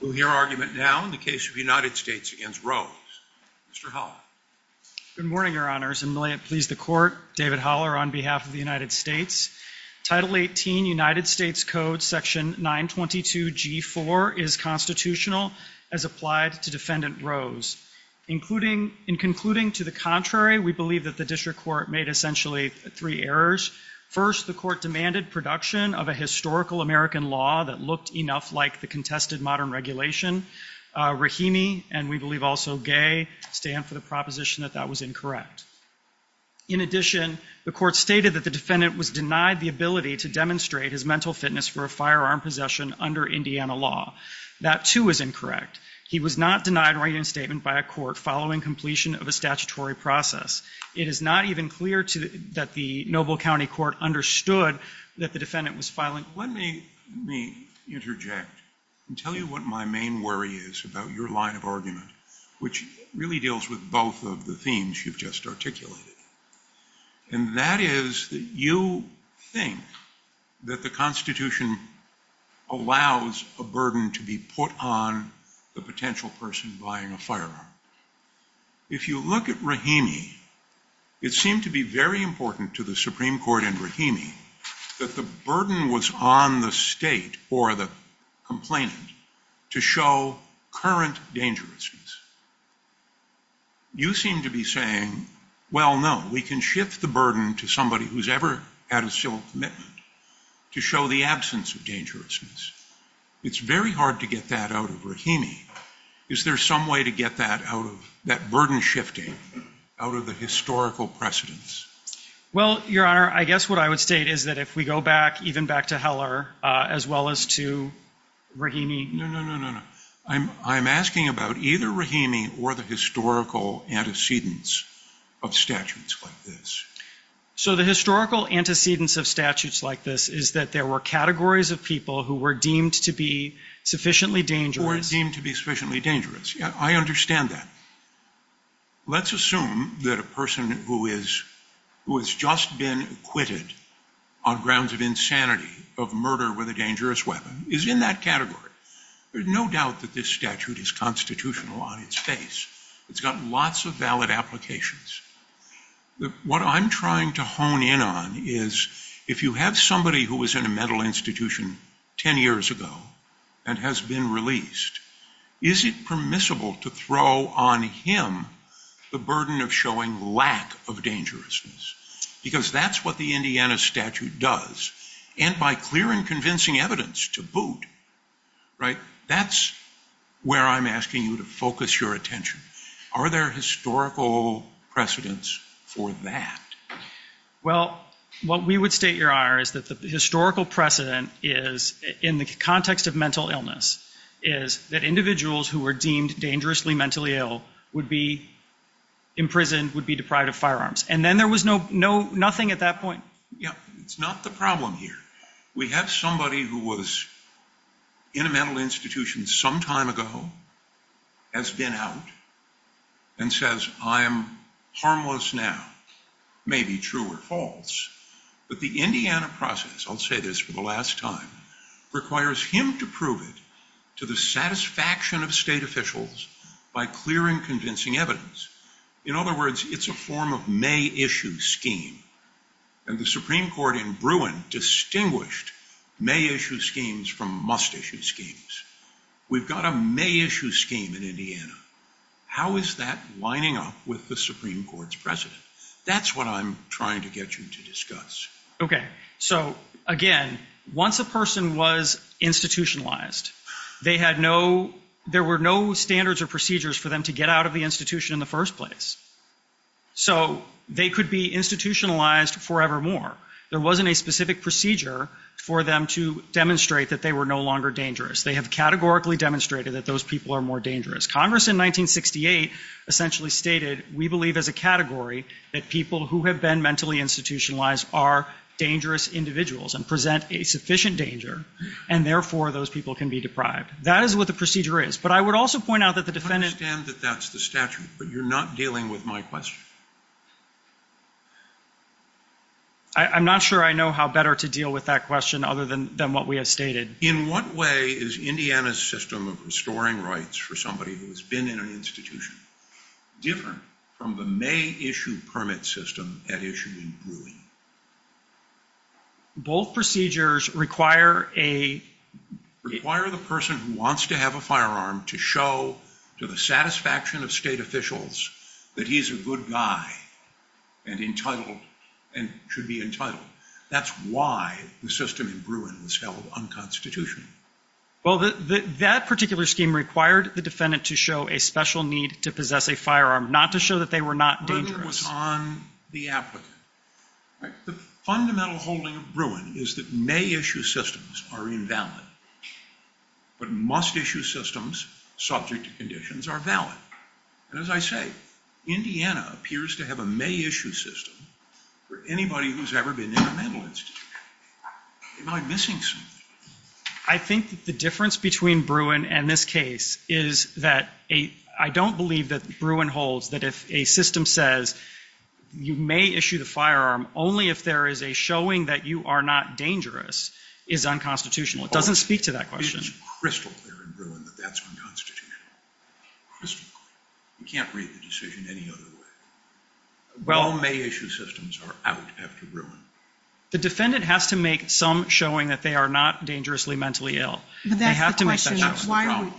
We'll hear argument now in the case of United States v. Rose. Mr. Holler. Good morning, Your Honors, and may it please the Court, David Holler on behalf of the United States. Title 18 United States Code Section 922G4 is constitutional as applied to Defendant Rose. In concluding to the contrary, we believe that the District Court made essentially three errors. First, the Court demanded production of a historical American law that looked enough like the contested modern regulation. Rahimi, and we believe also Gay, stand for the proposition that that was incorrect. In addition, the Court stated that the Defendant was denied the ability to demonstrate his mental fitness for a firearm possession under Indiana law. That, too, was incorrect. He was not denied writing a statement by a court following completion of a statutory process. It is not even clear that the Noble County Court understood that the Defendant was filing. Let me interject and tell you what my main worry is about your line of argument, which really deals with both of the themes you've just articulated. And that is that you think that the Constitution allows a burden to be put on the potential person buying a firearm. If you look at Rahimi, it seemed to be very important to the Supreme Court in Rahimi that the burden was on the State or the complainant to show current dangerousness. You seem to be saying, well, no, we can shift the burden to somebody who's ever had a civil commitment to show the absence of dangerousness. It's very hard to get that out of Rahimi. Is there some way to get that burden shifting out of the historical precedence? Well, Your Honor, I guess what I would state is that if we go back, even back to Heller, as well as to Rahimi. No, no, no, no, no. I'm asking about either Rahimi or the historical antecedents of statutes like this. So the historical antecedents of statutes like this is that there were categories of people who were deemed to be sufficiently dangerous. Who were deemed to be sufficiently dangerous. I understand that. Let's assume that a person who has just been acquitted on grounds of insanity of murder with a dangerous weapon is in that category. There's no doubt that this statute is constitutional on its face. It's got lots of valid applications. What I'm trying to hone in on is if you have somebody who was in a mental institution ten years ago and has been released, is it permissible to throw on him the burden of showing lack of dangerousness? Because that's what the Indiana statute does. And by clear and convincing evidence to boot, right, that's where I'm asking you to focus your attention. Are there historical precedents for that? Well, what we would state, Your Honor, is that the historical precedent is, in the context of mental illness, is that individuals who were deemed dangerously mentally ill would be imprisoned, would be deprived of firearms. And then there was nothing at that point? It's not the problem here. We have somebody who was in a mental institution some time ago, has been out, and says, I am harmless now. Maybe true or false. But the Indiana process, I'll say this for the last time, requires him to prove it to the satisfaction of state officials by clear and convincing evidence. In other words, it's a form of may-issue scheme. And the Supreme Court in Bruin distinguished may-issue schemes from must-issue schemes. We've got a may-issue scheme in Indiana. How is that lining up with the Supreme Court's precedent? That's what I'm trying to get you to discuss. Okay. So, again, once a person was institutionalized, they had no, there were no standards or procedures for them to get out of the institution in the first place. So they could be institutionalized forevermore. There wasn't a specific procedure for them to demonstrate that they were no longer dangerous. They have categorically demonstrated that those people are more dangerous. Congress in 1968 essentially stated, we believe as a category, that people who have been mentally institutionalized are dangerous individuals and present a sufficient danger, and therefore those people can be deprived. That is what the procedure is. But I would also point out that the defendant... I understand that that's the statute, but you're not dealing with my question. I'm not sure I know how better to deal with that question other than what we have stated. In what way is Indiana's system of restoring rights for somebody who has been in an institution different from the May issue permit system that issued in Bruin? Both procedures require a... Require the person who wants to have a firearm to show to the satisfaction of state officials that he's a good guy and entitled and should be entitled. That's why the system in Bruin was held unconstitutional. Well, that particular scheme required the defendant to show a special need to possess a firearm, not to show that they were not dangerous. It was on the applicant. The fundamental holding of Bruin is that May-issue systems are invalid, but must-issue systems subject to conditions are valid. And as I say, Indiana appears to have a May-issue system for anybody who's ever been in a mental institution. Am I missing something? I think that the difference between Bruin and this case is that I don't believe that Bruin holds that if a system says you may issue the firearm, only if there is a showing that you are not dangerous is unconstitutional. It doesn't speak to that question. It's crystal clear in Bruin that that's unconstitutional. Crystal clear. You can't read the decision any other way. No May-issue systems are out after Bruin. The defendant has to make some showing that they are not dangerously mentally ill. They have to make that showing. But that's the question.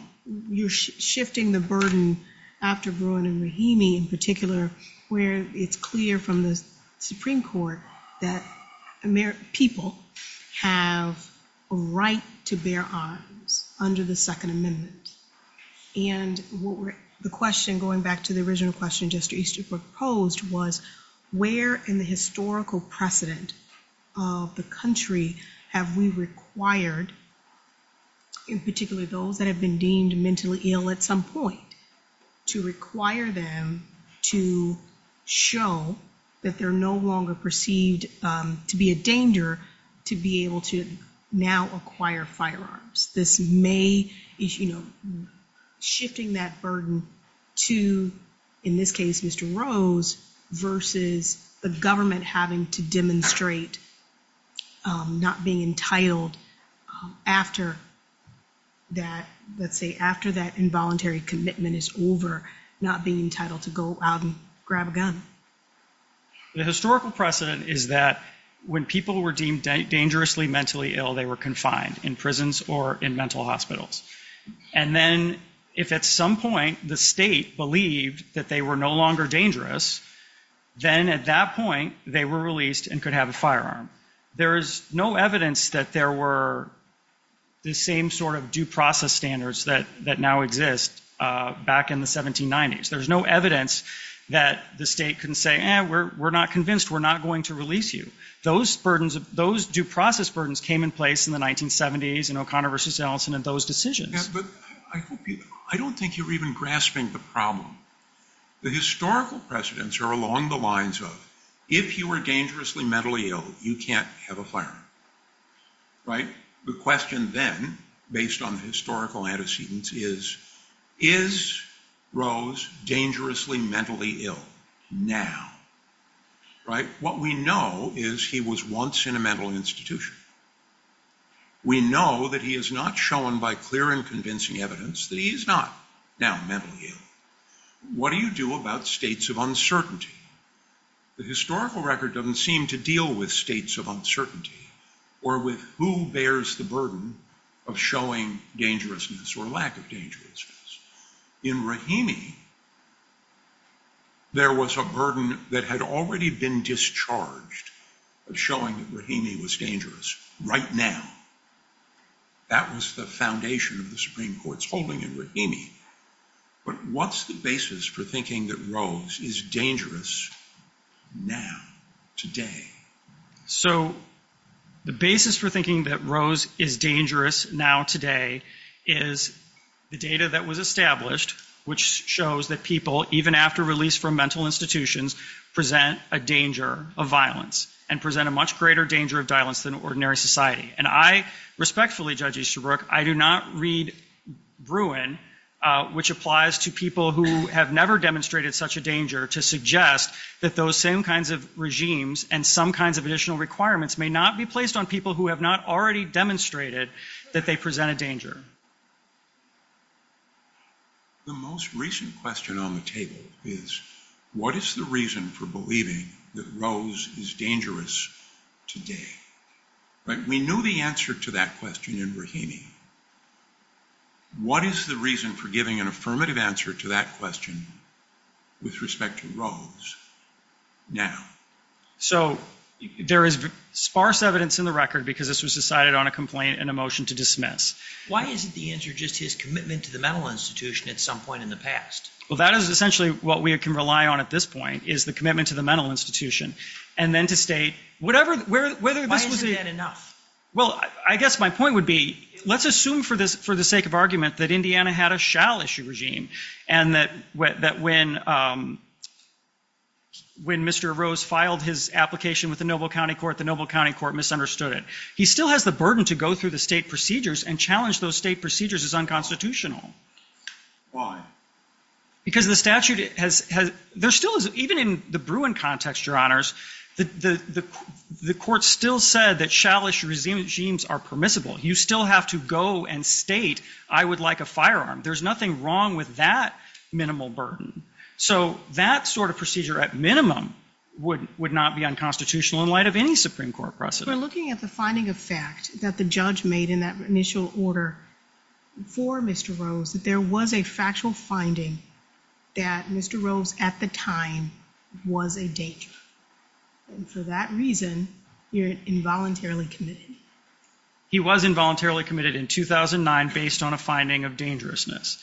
You're shifting the burden after Bruin and Rahimi in particular, where it's clear from the Supreme Court that people have a right to bear arms under the Second Amendment. And the question, going back to the original question Jester Easterbrook posed, was where in the historical precedent of the country have we required, in particular those that have been deemed mentally ill at some point, to require them to show that they're no longer perceived to be a danger to be able to now acquire firearms? This May-issue shifting that burden to, in this case, Mr. Rose, versus the government having to demonstrate not being entitled after that involuntary commitment is over, not being entitled to go out and grab a gun. The historical precedent is that when people were deemed dangerously mentally ill, they were confined in prisons or in mental hospitals. And then if at some point the state believed that they were no longer dangerous, then at that point they were released and could have a firearm. There is no evidence that there were the same sort of due process standards that now exist back in the 1790s. There's no evidence that the state can say, eh, we're not convinced, we're not going to release you. Those due process burdens came in place in the 1970s in O'Connor versus Ellison and those decisions. I don't think you're even grasping the problem. The historical precedents are along the lines of, if you were dangerously mentally ill, you can't have a firearm. The question then, based on the historical antecedents, is, is Rose dangerously mentally ill now? What we know is he was once in a mental institution. We know that he is not shown by clear and convincing evidence that he is not now mentally ill. What do you do about states of uncertainty? The historical record doesn't seem to deal with states of uncertainty or with who bears the burden of showing dangerousness or lack of dangerousness. In Rahimi, there was a burden that had already been discharged of showing that Rahimi was dangerous right now. That was the foundation of the Supreme Court's holding in Rahimi. But what's the basis for thinking that Rose is dangerous now, today? So the basis for thinking that Rose is dangerous now, today, is the data that was established, which shows that people, even after release from mental institutions, present a danger of violence and present a much greater danger of violence than ordinary society. And I respectfully, Judge Easterbrook, I do not read Bruin, which applies to people who have never demonstrated such a danger, to suggest that those same kinds of regimes and some kinds of additional requirements may not be placed on people who have not already demonstrated that they present a danger. The most recent question on the table is, what is the reason for believing that Rose is dangerous today? We knew the answer to that question in Rahimi. What is the reason for giving an affirmative answer to that question with respect to Rose now? So there is sparse evidence in the record because this was decided on a complaint and a motion to dismiss. Why isn't the answer just his commitment to the mental institution at some point in the past? Well, that is essentially what we can rely on at this point, is the commitment to the mental institution. And then to state, whatever, whether this was a... Well, I guess my point would be, let's assume for the sake of argument that Indiana had a shall issue regime and that when Mr. Rose filed his application with the Noble County Court, the Noble County Court misunderstood it. He still has the burden to go through the state procedures and challenge those state procedures as unconstitutional. Why? Because the statute has... There still is, even in the Bruin context, Your Honors, the court still said that shall issue regimes are permissible. You still have to go and state, I would like a firearm. There's nothing wrong with that minimal burden. So that sort of procedure, at minimum, would not be unconstitutional in light of any Supreme Court precedent. We're looking at the finding of fact that the judge made in that initial order for Mr. Rose, that there was a factual finding that Mr. Rose, at the time, was a danger. And for that reason, you're involuntarily committed. He was involuntarily committed in 2009 based on a finding of dangerousness.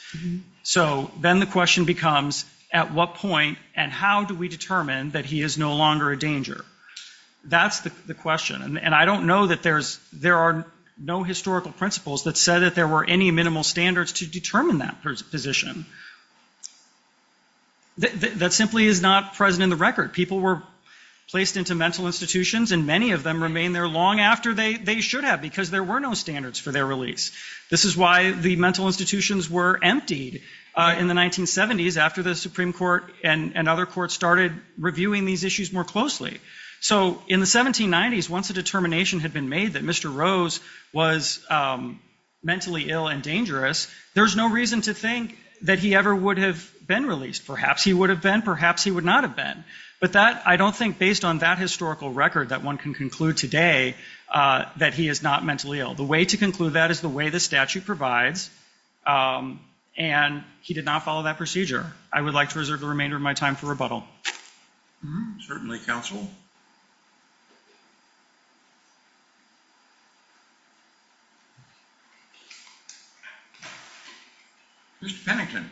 So then the question becomes, at what point and how do we determine that he is no longer a danger? That's the question. And I don't know that there's... no historical principles that said that there were any minimal standards to determine that position. That simply is not present in the record. People were placed into mental institutions, and many of them remain there long after they should have because there were no standards for their release. This is why the mental institutions were emptied in the 1970s after the Supreme Court and other courts started reviewing these issues more closely. So in the 1790s, once a determination had been made that Mr. Rose was mentally ill and dangerous, there's no reason to think that he ever would have been released. Perhaps he would have been, perhaps he would not have been. But I don't think based on that historical record that one can conclude today that he is not mentally ill. The way to conclude that is the way the statute provides, and he did not follow that procedure. I would like to reserve the remainder of my time for rebuttal. Certainly, counsel. Mr. Pennington.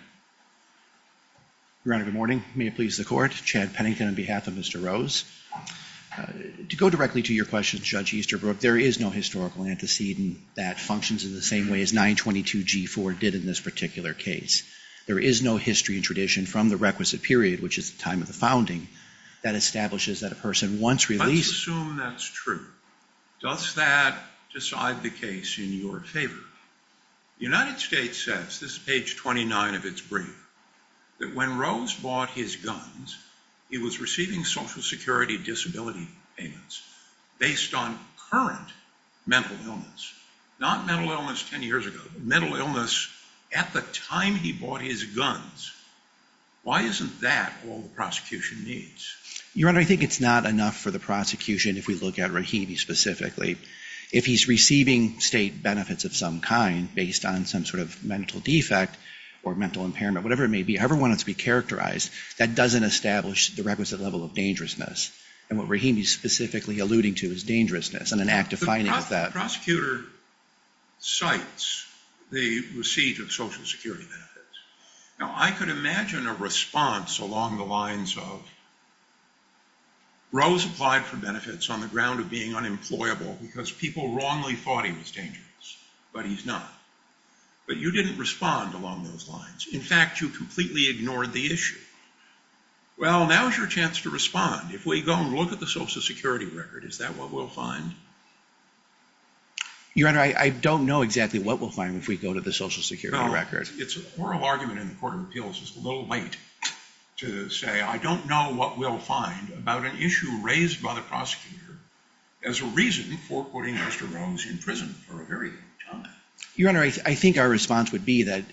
Your Honor, good morning. May it please the Court? Chad Pennington on behalf of Mr. Rose. To go directly to your question, Judge Easterbrook, there is no historical antecedent that functions in the same way as 922G4 did in this particular case. There is no history and tradition from the requisite period, which is the time of the founding, that establishes that a person once released... Let's assume that's true. Does that decide the case in your favor? The United States says, this is page 29 of its brief, that when Rose bought his guns, he was receiving Social Security disability payments based on current mental illness. Not mental illness 10 years ago, but mental illness at the time he bought his guns. Why isn't that all the prosecution needs? Your Honor, I think it's not enough for the prosecution, if we look at Rahimi specifically. If he's receiving state benefits of some kind, based on some sort of mental defect or mental impairment, whatever it may be, however one has to be characterized, that doesn't establish the requisite level of dangerousness. And what Rahimi is specifically alluding to is dangerousness, and an act defining that. The prosecutor cites the receipt of Social Security benefits. Now, I could imagine a response along the lines of, Rose applied for benefits on the ground of being unemployable, because people wrongly thought he was dangerous, but he's not. But you didn't respond along those lines. In fact, you completely ignored the issue. Well, now is your chance to respond. If we go and look at the Social Security record, is that what we'll find? Your Honor, I don't know exactly what we'll find if we go to the Social Security record. It's an oral argument in the Court of Appeals, it's a little late to say, I don't know what we'll find about an issue raised by the prosecutor as a reason for putting Mr. Rose in prison for a very long time. Your Honor, I think our response would be that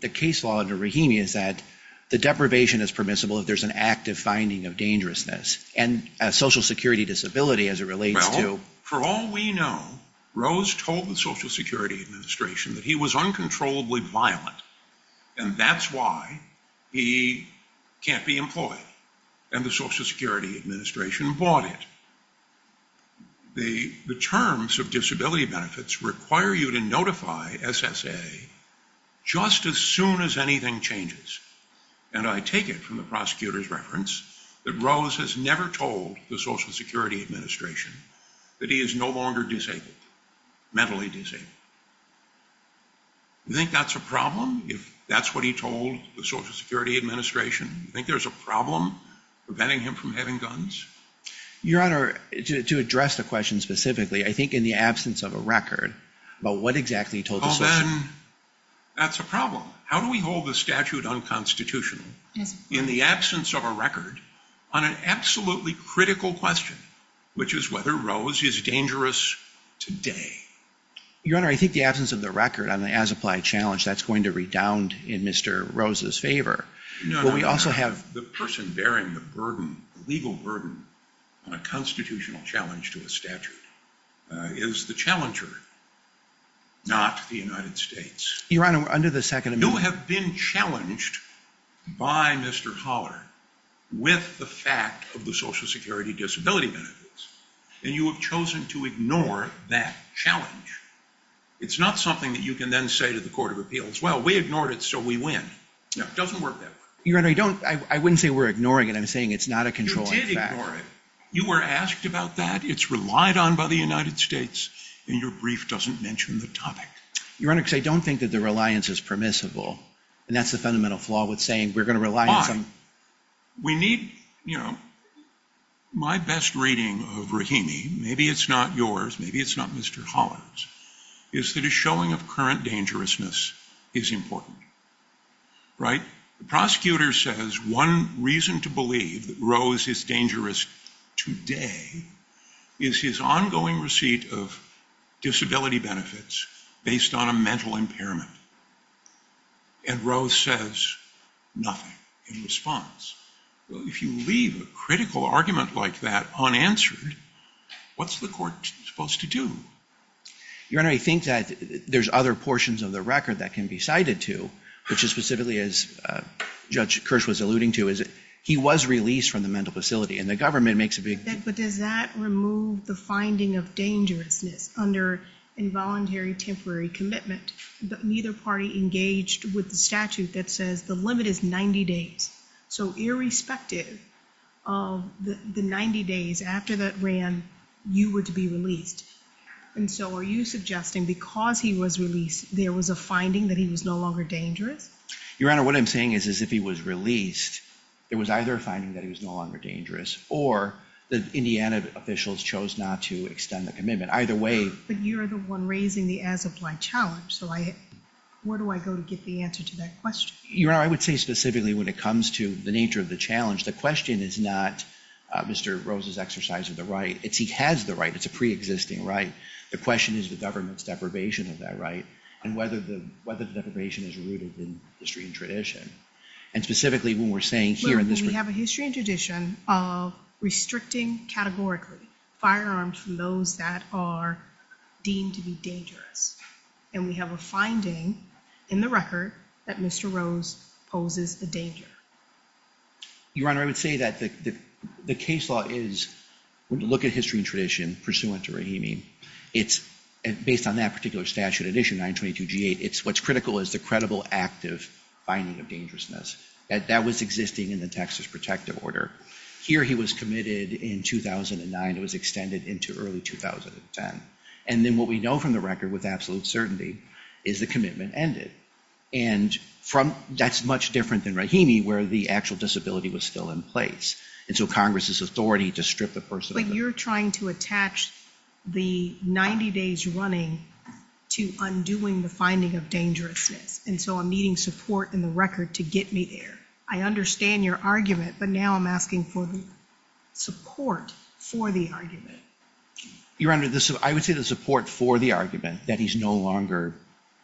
the case law under Rahimi is that the deprivation is permissible if there's an active finding of dangerousness, and a Social Security disability as it relates to... Well, for all we know, Rose told the Social Security Administration that he was uncontrollably violent, and that's why he can't be employed. And the Social Security Administration bought it. The terms of disability benefits require you to notify SSA just as soon as anything changes. And I take it from the prosecutor's reference that Rose has never told the Social Security Administration that he is no longer disabled, mentally disabled. You think that's a problem, if that's what he told the Social Security Administration? You think there's a problem preventing him from having guns? Your Honor, to address the question specifically, I think in the absence of a record about what exactly he told the Social Security... Well, then, that's a problem. How do we hold the statute unconstitutional in the absence of a record on an absolutely critical question, which is whether Rose is dangerous today? Your Honor, I think the absence of the record on the as-applied challenge, that's going to redound in Mr. Rose's favor. The person bearing the legal burden on a constitutional challenge to a statute is the challenger, not the United States. Your Honor, under the Second Amendment... You have been challenged by Mr. Holler with the fact of the Social Security disability benefits, and you have chosen to ignore that challenge. It's not something that you can then say to the Court of Appeals, well, we ignored it, so we win. No, it doesn't work that way. Your Honor, I wouldn't say we're ignoring it. I'm saying it's not a controlling fact. You did ignore it. You were asked about that. It's relied on by the United States, and your brief doesn't mention the topic. Your Honor, because I don't think that the reliance is permissible, and that's the fundamental flaw with saying we're going to rely on some... We need, you know... My best reading of Rahimi, maybe it's not yours, maybe it's not Mr. Holler's, is that a showing of current dangerousness is important, right? The prosecutor says one reason to believe that Rose is dangerous today is his ongoing receipt of disability benefits based on a mental impairment, and Rose says nothing in response. Well, if you leave a critical argument like that unanswered, what's the court supposed to do? Your Honor, I think that there's other portions of the record that can be cited to, which is specifically, as Judge Kirsch was alluding to, is that he was released from the mental facility, and the government makes a big... But does that remove the finding of dangerousness under involuntary temporary commitment? But neither party engaged with the statute that says the limit is 90 days. So irrespective of the 90 days after that ran, you were to be released. And so are you suggesting because he was released, there was a finding that he was no longer dangerous? Your Honor, what I'm saying is if he was released, there was either a finding that he was no longer dangerous, or the Indiana officials chose not to extend the commitment. Either way... But you're the one raising the as-applied challenge, so where do I go to get the answer to that question? Your Honor, I would say specifically when it comes to the nature of the challenge, the question is not Mr. Rose's exercise of the right. It's he has the right. It's a pre-existing right. The question is the government's deprivation of that right, and whether the deprivation is rooted in history and tradition. And specifically when we're saying here in this... When we have a history and tradition of restricting categorically firearms from those that are deemed to be dangerous, and we have a finding in the record that Mr. Rose poses a danger. Your Honor, I would say that the case law is... When you look at history and tradition pursuant to Rahimi, it's based on that particular statute, addition 922G8, it's what's critical is the credible active finding of dangerousness. That was existing in the Texas protective order. Here he was committed in 2009. It was extended into early 2010. And then what we know from the record with absolute certainty is the commitment ended. And that's much different than Rahimi, where the actual disability was still in place. And so Congress's authority to strip the person... But you're trying to attach the 90 days running to undoing the finding of dangerousness. And so I'm needing support in the record to get me there. I understand your argument, but now I'm asking for the support for the argument. Your Honor, I would say the support for the argument, that he's no longer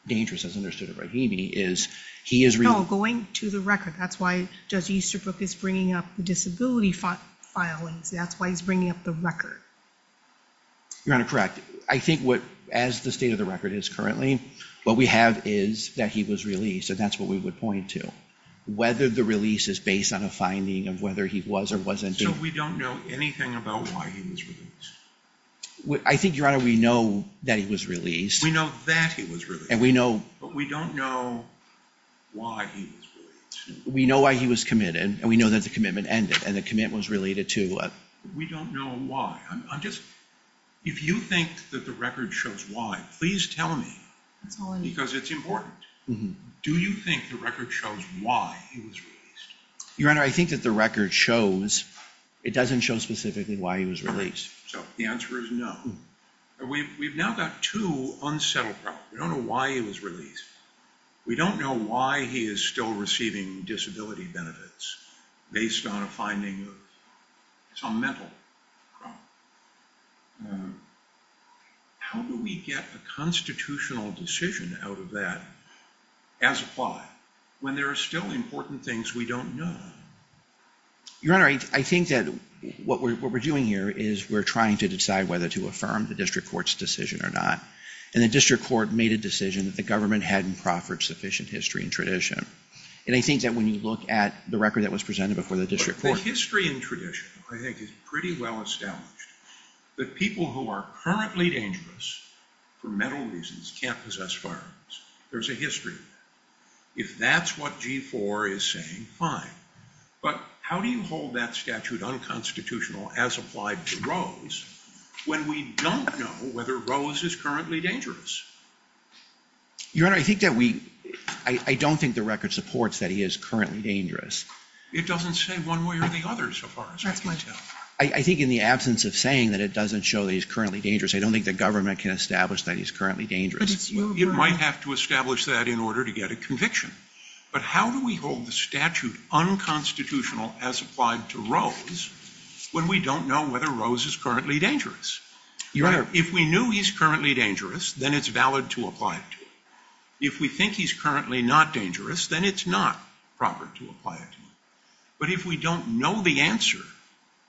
dangerous as understood in Rahimi, is he is... No, going to the record. That's why Judge Easterbrook is bringing up the disability filings. That's why he's bringing up the record. Your Honor, correct. I think what, as the state of the record is currently, what we have is that he was released, and that's what we would point to. Whether the release is based on a finding of whether he was or wasn't... So we don't know anything about why he was released? I think, Your Honor, we know that he was released. We know that he was released. And we know... But we don't know why he was released. We know why he was committed, and we know that the commitment ended, and the commitment was related to... We don't know why. If you think that the record shows why, please tell me, because it's important. Do you think the record shows why he was released? Your Honor, I think that the record shows... It doesn't show specifically why he was released. So the answer is no. We've now got two unsettled problems. We don't know why he was released. We don't know why he is still receiving disability benefits based on a finding of some mental problem. How do we get a constitutional decision out of that as applied when there are still important things we don't know? Your Honor, I think that what we're doing here is we're trying to decide whether to affirm the district court's decision or not. And the district court made a decision that the government hadn't proffered sufficient history and tradition. And I think that when you look at the record that was presented before the district court... The history and tradition, I think, is pretty well established. The people who are currently dangerous for mental reasons can't possess firearms. There's a history. If that's what G4 is saying, fine. But how do you hold that statute unconstitutional as applied to Rose when we don't know whether Rose is currently dangerous? Your Honor, I think that we... I don't think the record supports that he is currently dangerous. It doesn't say one way or the other, so far as I can tell. I think in the absence of saying that it doesn't show that he's currently dangerous, I don't think the government can establish that he's currently dangerous. It might have to establish that in order to get a conviction. But how do we hold the statute unconstitutional as applied to Rose when we don't know whether Rose is currently dangerous? Your Honor... If we knew he's currently dangerous, then it's valid to apply it to him. If we think he's currently not dangerous, then it's not proper to apply it to him. But if we don't know the answer,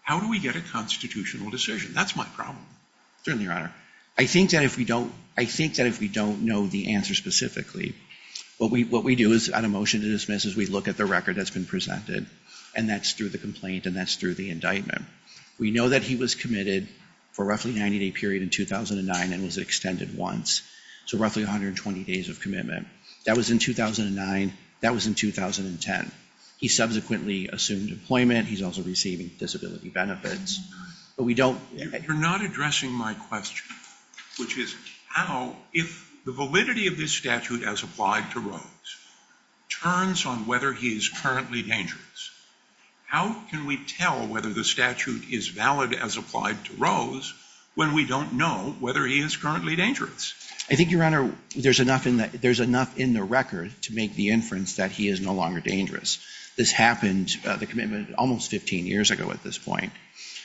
how do we get a constitutional decision? That's my problem. Certainly, Your Honor. I think that if we don't know the answer specifically, what we do is, on a motion to dismiss, is we look at the record that's been presented, and that's through the complaint and that's through the indictment. We know that he was committed for roughly a 90-day period in 2009 and was extended once, so roughly 120 days of commitment. That was in 2009. That was in 2010. He subsequently assumed employment. He's also receiving disability benefits. But we don't... You're not addressing my question, which is how, if the validity of this statute as applied to Rose turns on whether he is currently dangerous, how can we tell whether the statute is valid as applied to Rose when we don't know whether he is currently dangerous? I think, Your Honor, there's enough in the record to make the inference that he is no longer dangerous. This happened, the commitment, almost 15 years ago at this point.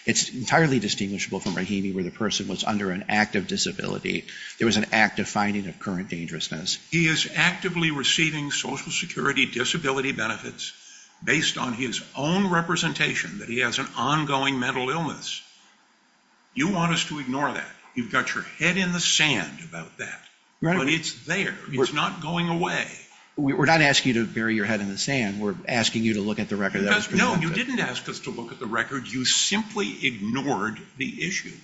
It's entirely distinguishable from Rahimi where the person was under an act of disability. There was an act of finding of current dangerousness. He is actively receiving Social Security disability benefits based on his own representation that he has an ongoing mental illness. You want us to ignore that. You've got your head in the sand about that. But it's there. It's not going away. We're not asking you to bury your head in the sand. We're asking you to look at the record that was presented. No, you didn't ask us to look at the record. You simply ignored the issue.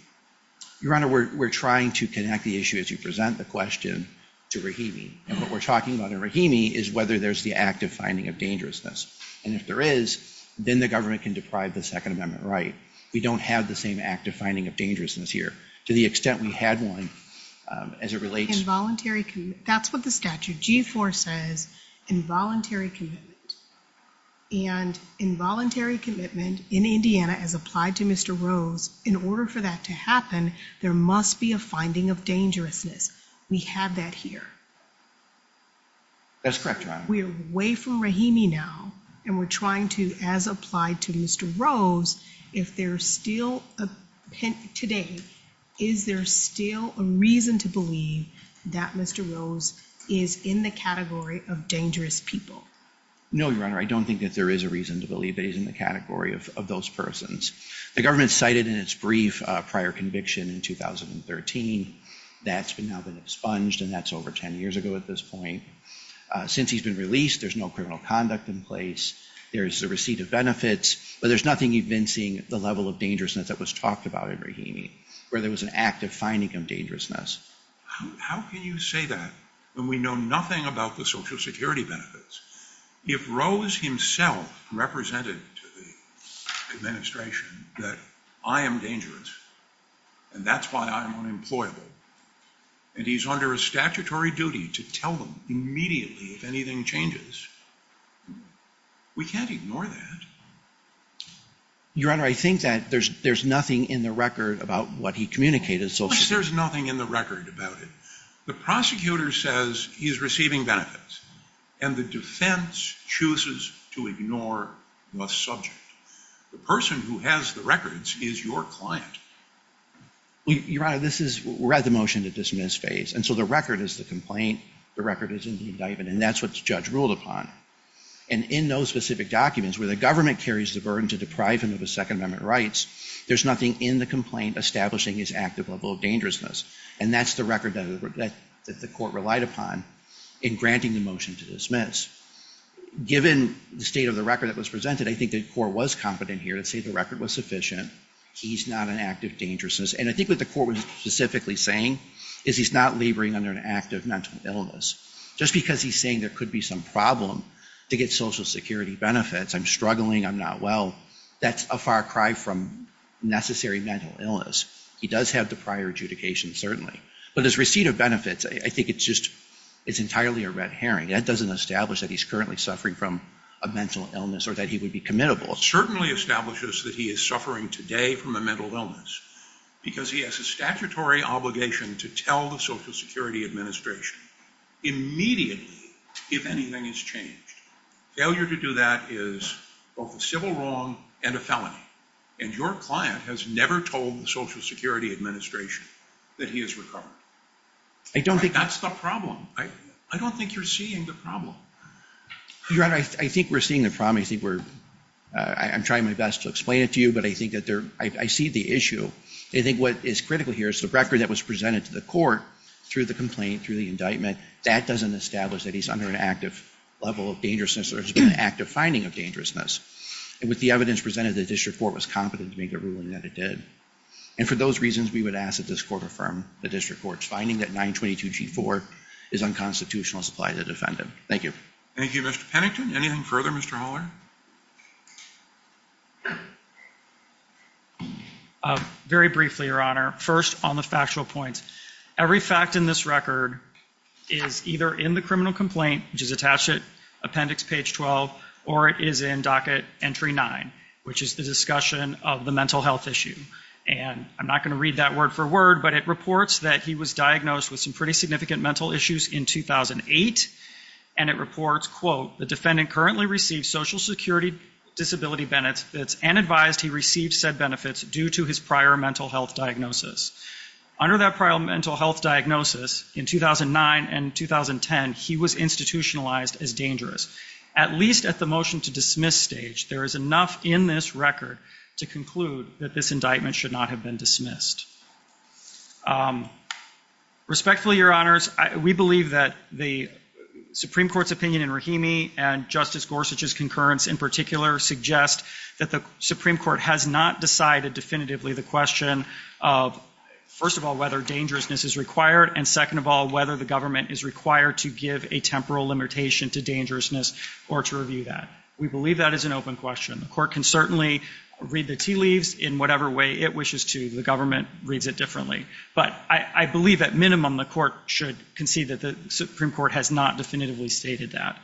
Your Honor, we're trying to connect the issue as you present the question to Rahimi. And what we're talking about in Rahimi is whether there's the act of finding of dangerousness. And if there is, then the government can deprive the Second Amendment right. We don't have the same act of finding of dangerousness here to the extent we had one as it relates... That's what the statute, G-4, says, involuntary commitment. And involuntary commitment in Indiana, as applied to Mr. Rose, in order for that to happen, there must be a finding of dangerousness. We have that here. That's correct, Your Honor. We're away from Rahimi now, and we're trying to, as applied to Mr. Rose, if there's still a... Today, is there still a reason to believe that Mr. Rose is in the category of dangerous people? No, Your Honor, I don't think that there is a reason to believe that he's in the category of those persons. The government cited in its brief prior conviction in 2013. That's now been expunged, and that's over 10 years ago at this point. Since he's been released, there's no criminal conduct in place. There's the receipt of benefits, but there's nothing evincing the level of dangerousness that was talked about in Rahimi, where there was an active finding of dangerousness. How can you say that when we know nothing about the Social Security benefits? If Rose himself represented to the administration that I am dangerous, and that's why I'm unemployable, and he's under a statutory duty to tell them immediately if anything changes, we can't ignore that. Your Honor, I think that there's nothing in the record about what he communicated. There's nothing in the record about it. The prosecutor says he's receiving benefits, and the defense chooses to ignore the subject. The person who has the records is your client. Your Honor, we're at the motion-to-dismiss phase, and so the record is the complaint, the record is in the indictment, and that's what the judge ruled upon. And in those specific documents, where the government carries the burden to deprive him of his Second Amendment rights, there's nothing in the complaint establishing his active level of dangerousness, and that's the record that the court relied upon in granting the motion-to-dismiss. Given the state of the record that was presented, I think the court was competent here to say the record was sufficient. He's not an active dangerousness, and I think what the court was specifically saying is he's not laboring under an active mental illness. Just because he's saying there could be some problem to get Social Security benefits, I'm struggling, I'm not well, that's a far cry from necessary mental illness. He does have the prior adjudication, certainly. But his receipt of benefits, I think it's just entirely a red herring. That doesn't establish that he's currently suffering from a mental illness or that he would be committable. It certainly establishes that he is suffering today from a mental illness, because he has a statutory obligation to tell the Social Security Administration immediately if anything has changed. Failure to do that is both a civil wrong and a felony. And your client has never told the Social Security Administration that he has recovered. That's the problem. I don't think you're seeing the problem. Your Honor, I think we're seeing the problem. I'm trying my best to explain it to you, but I see the issue. I think what is critical here is the record that was presented to the court through the complaint, through the indictment, that doesn't establish that he's under an active level of dangerousness or has been an active finding of dangerousness. And with the evidence presented, the district court was competent to make a ruling that it did. And for those reasons, we would ask that this court affirm the district court's finding that 922G4 is unconstitutional and supply the defendant. Thank you. Thank you, Mr. Pennington. Anything further, Mr. Haller? Very briefly, Your Honor. First, on the factual points. Every fact in this record is either in the criminal complaint, which is attached to Appendix Page 12, or it is in Docket Entry 9, which is the discussion of the mental health issue. And I'm not going to read that word for word, but it reports that he was diagnosed with some pretty significant mental issues in 2008. And it reports, quote, the defendant currently received social security disability benefits and advised he received said benefits due to his prior mental health diagnosis. Under that prior mental health diagnosis, in 2009 and 2010, he was institutionalized as dangerous. At least at the motion to dismiss stage, there is enough in this record to conclude that this indictment should not have been dismissed. Respectfully, Your Honors, we believe that the Supreme Court's opinion in Rahimi and Justice Gorsuch's concurrence in particular suggest that the Supreme Court has not decided definitively the question of, first of all, whether dangerousness is required, and second of all, whether the government is required to give a temporal limitation to dangerousness or to review that. We believe that is an open question. The court can certainly read the tea leaves in whatever way it wishes to. The government reads it differently. But I believe, at minimum, the court should concede that the Supreme Court has not definitively stated that.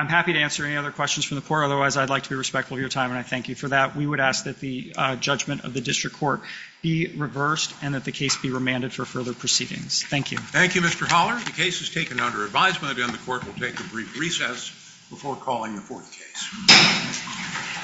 I'm happy to answer any other questions from the court. Otherwise, I'd like to be respectful of your time, and I thank you for that. We would ask that the judgment of the district court be reversed, and that the case be remanded for further proceedings. Thank you. Thank you, Mr. Holler. The case is taken under advisement, and the court will take a brief recess before calling the fourth case.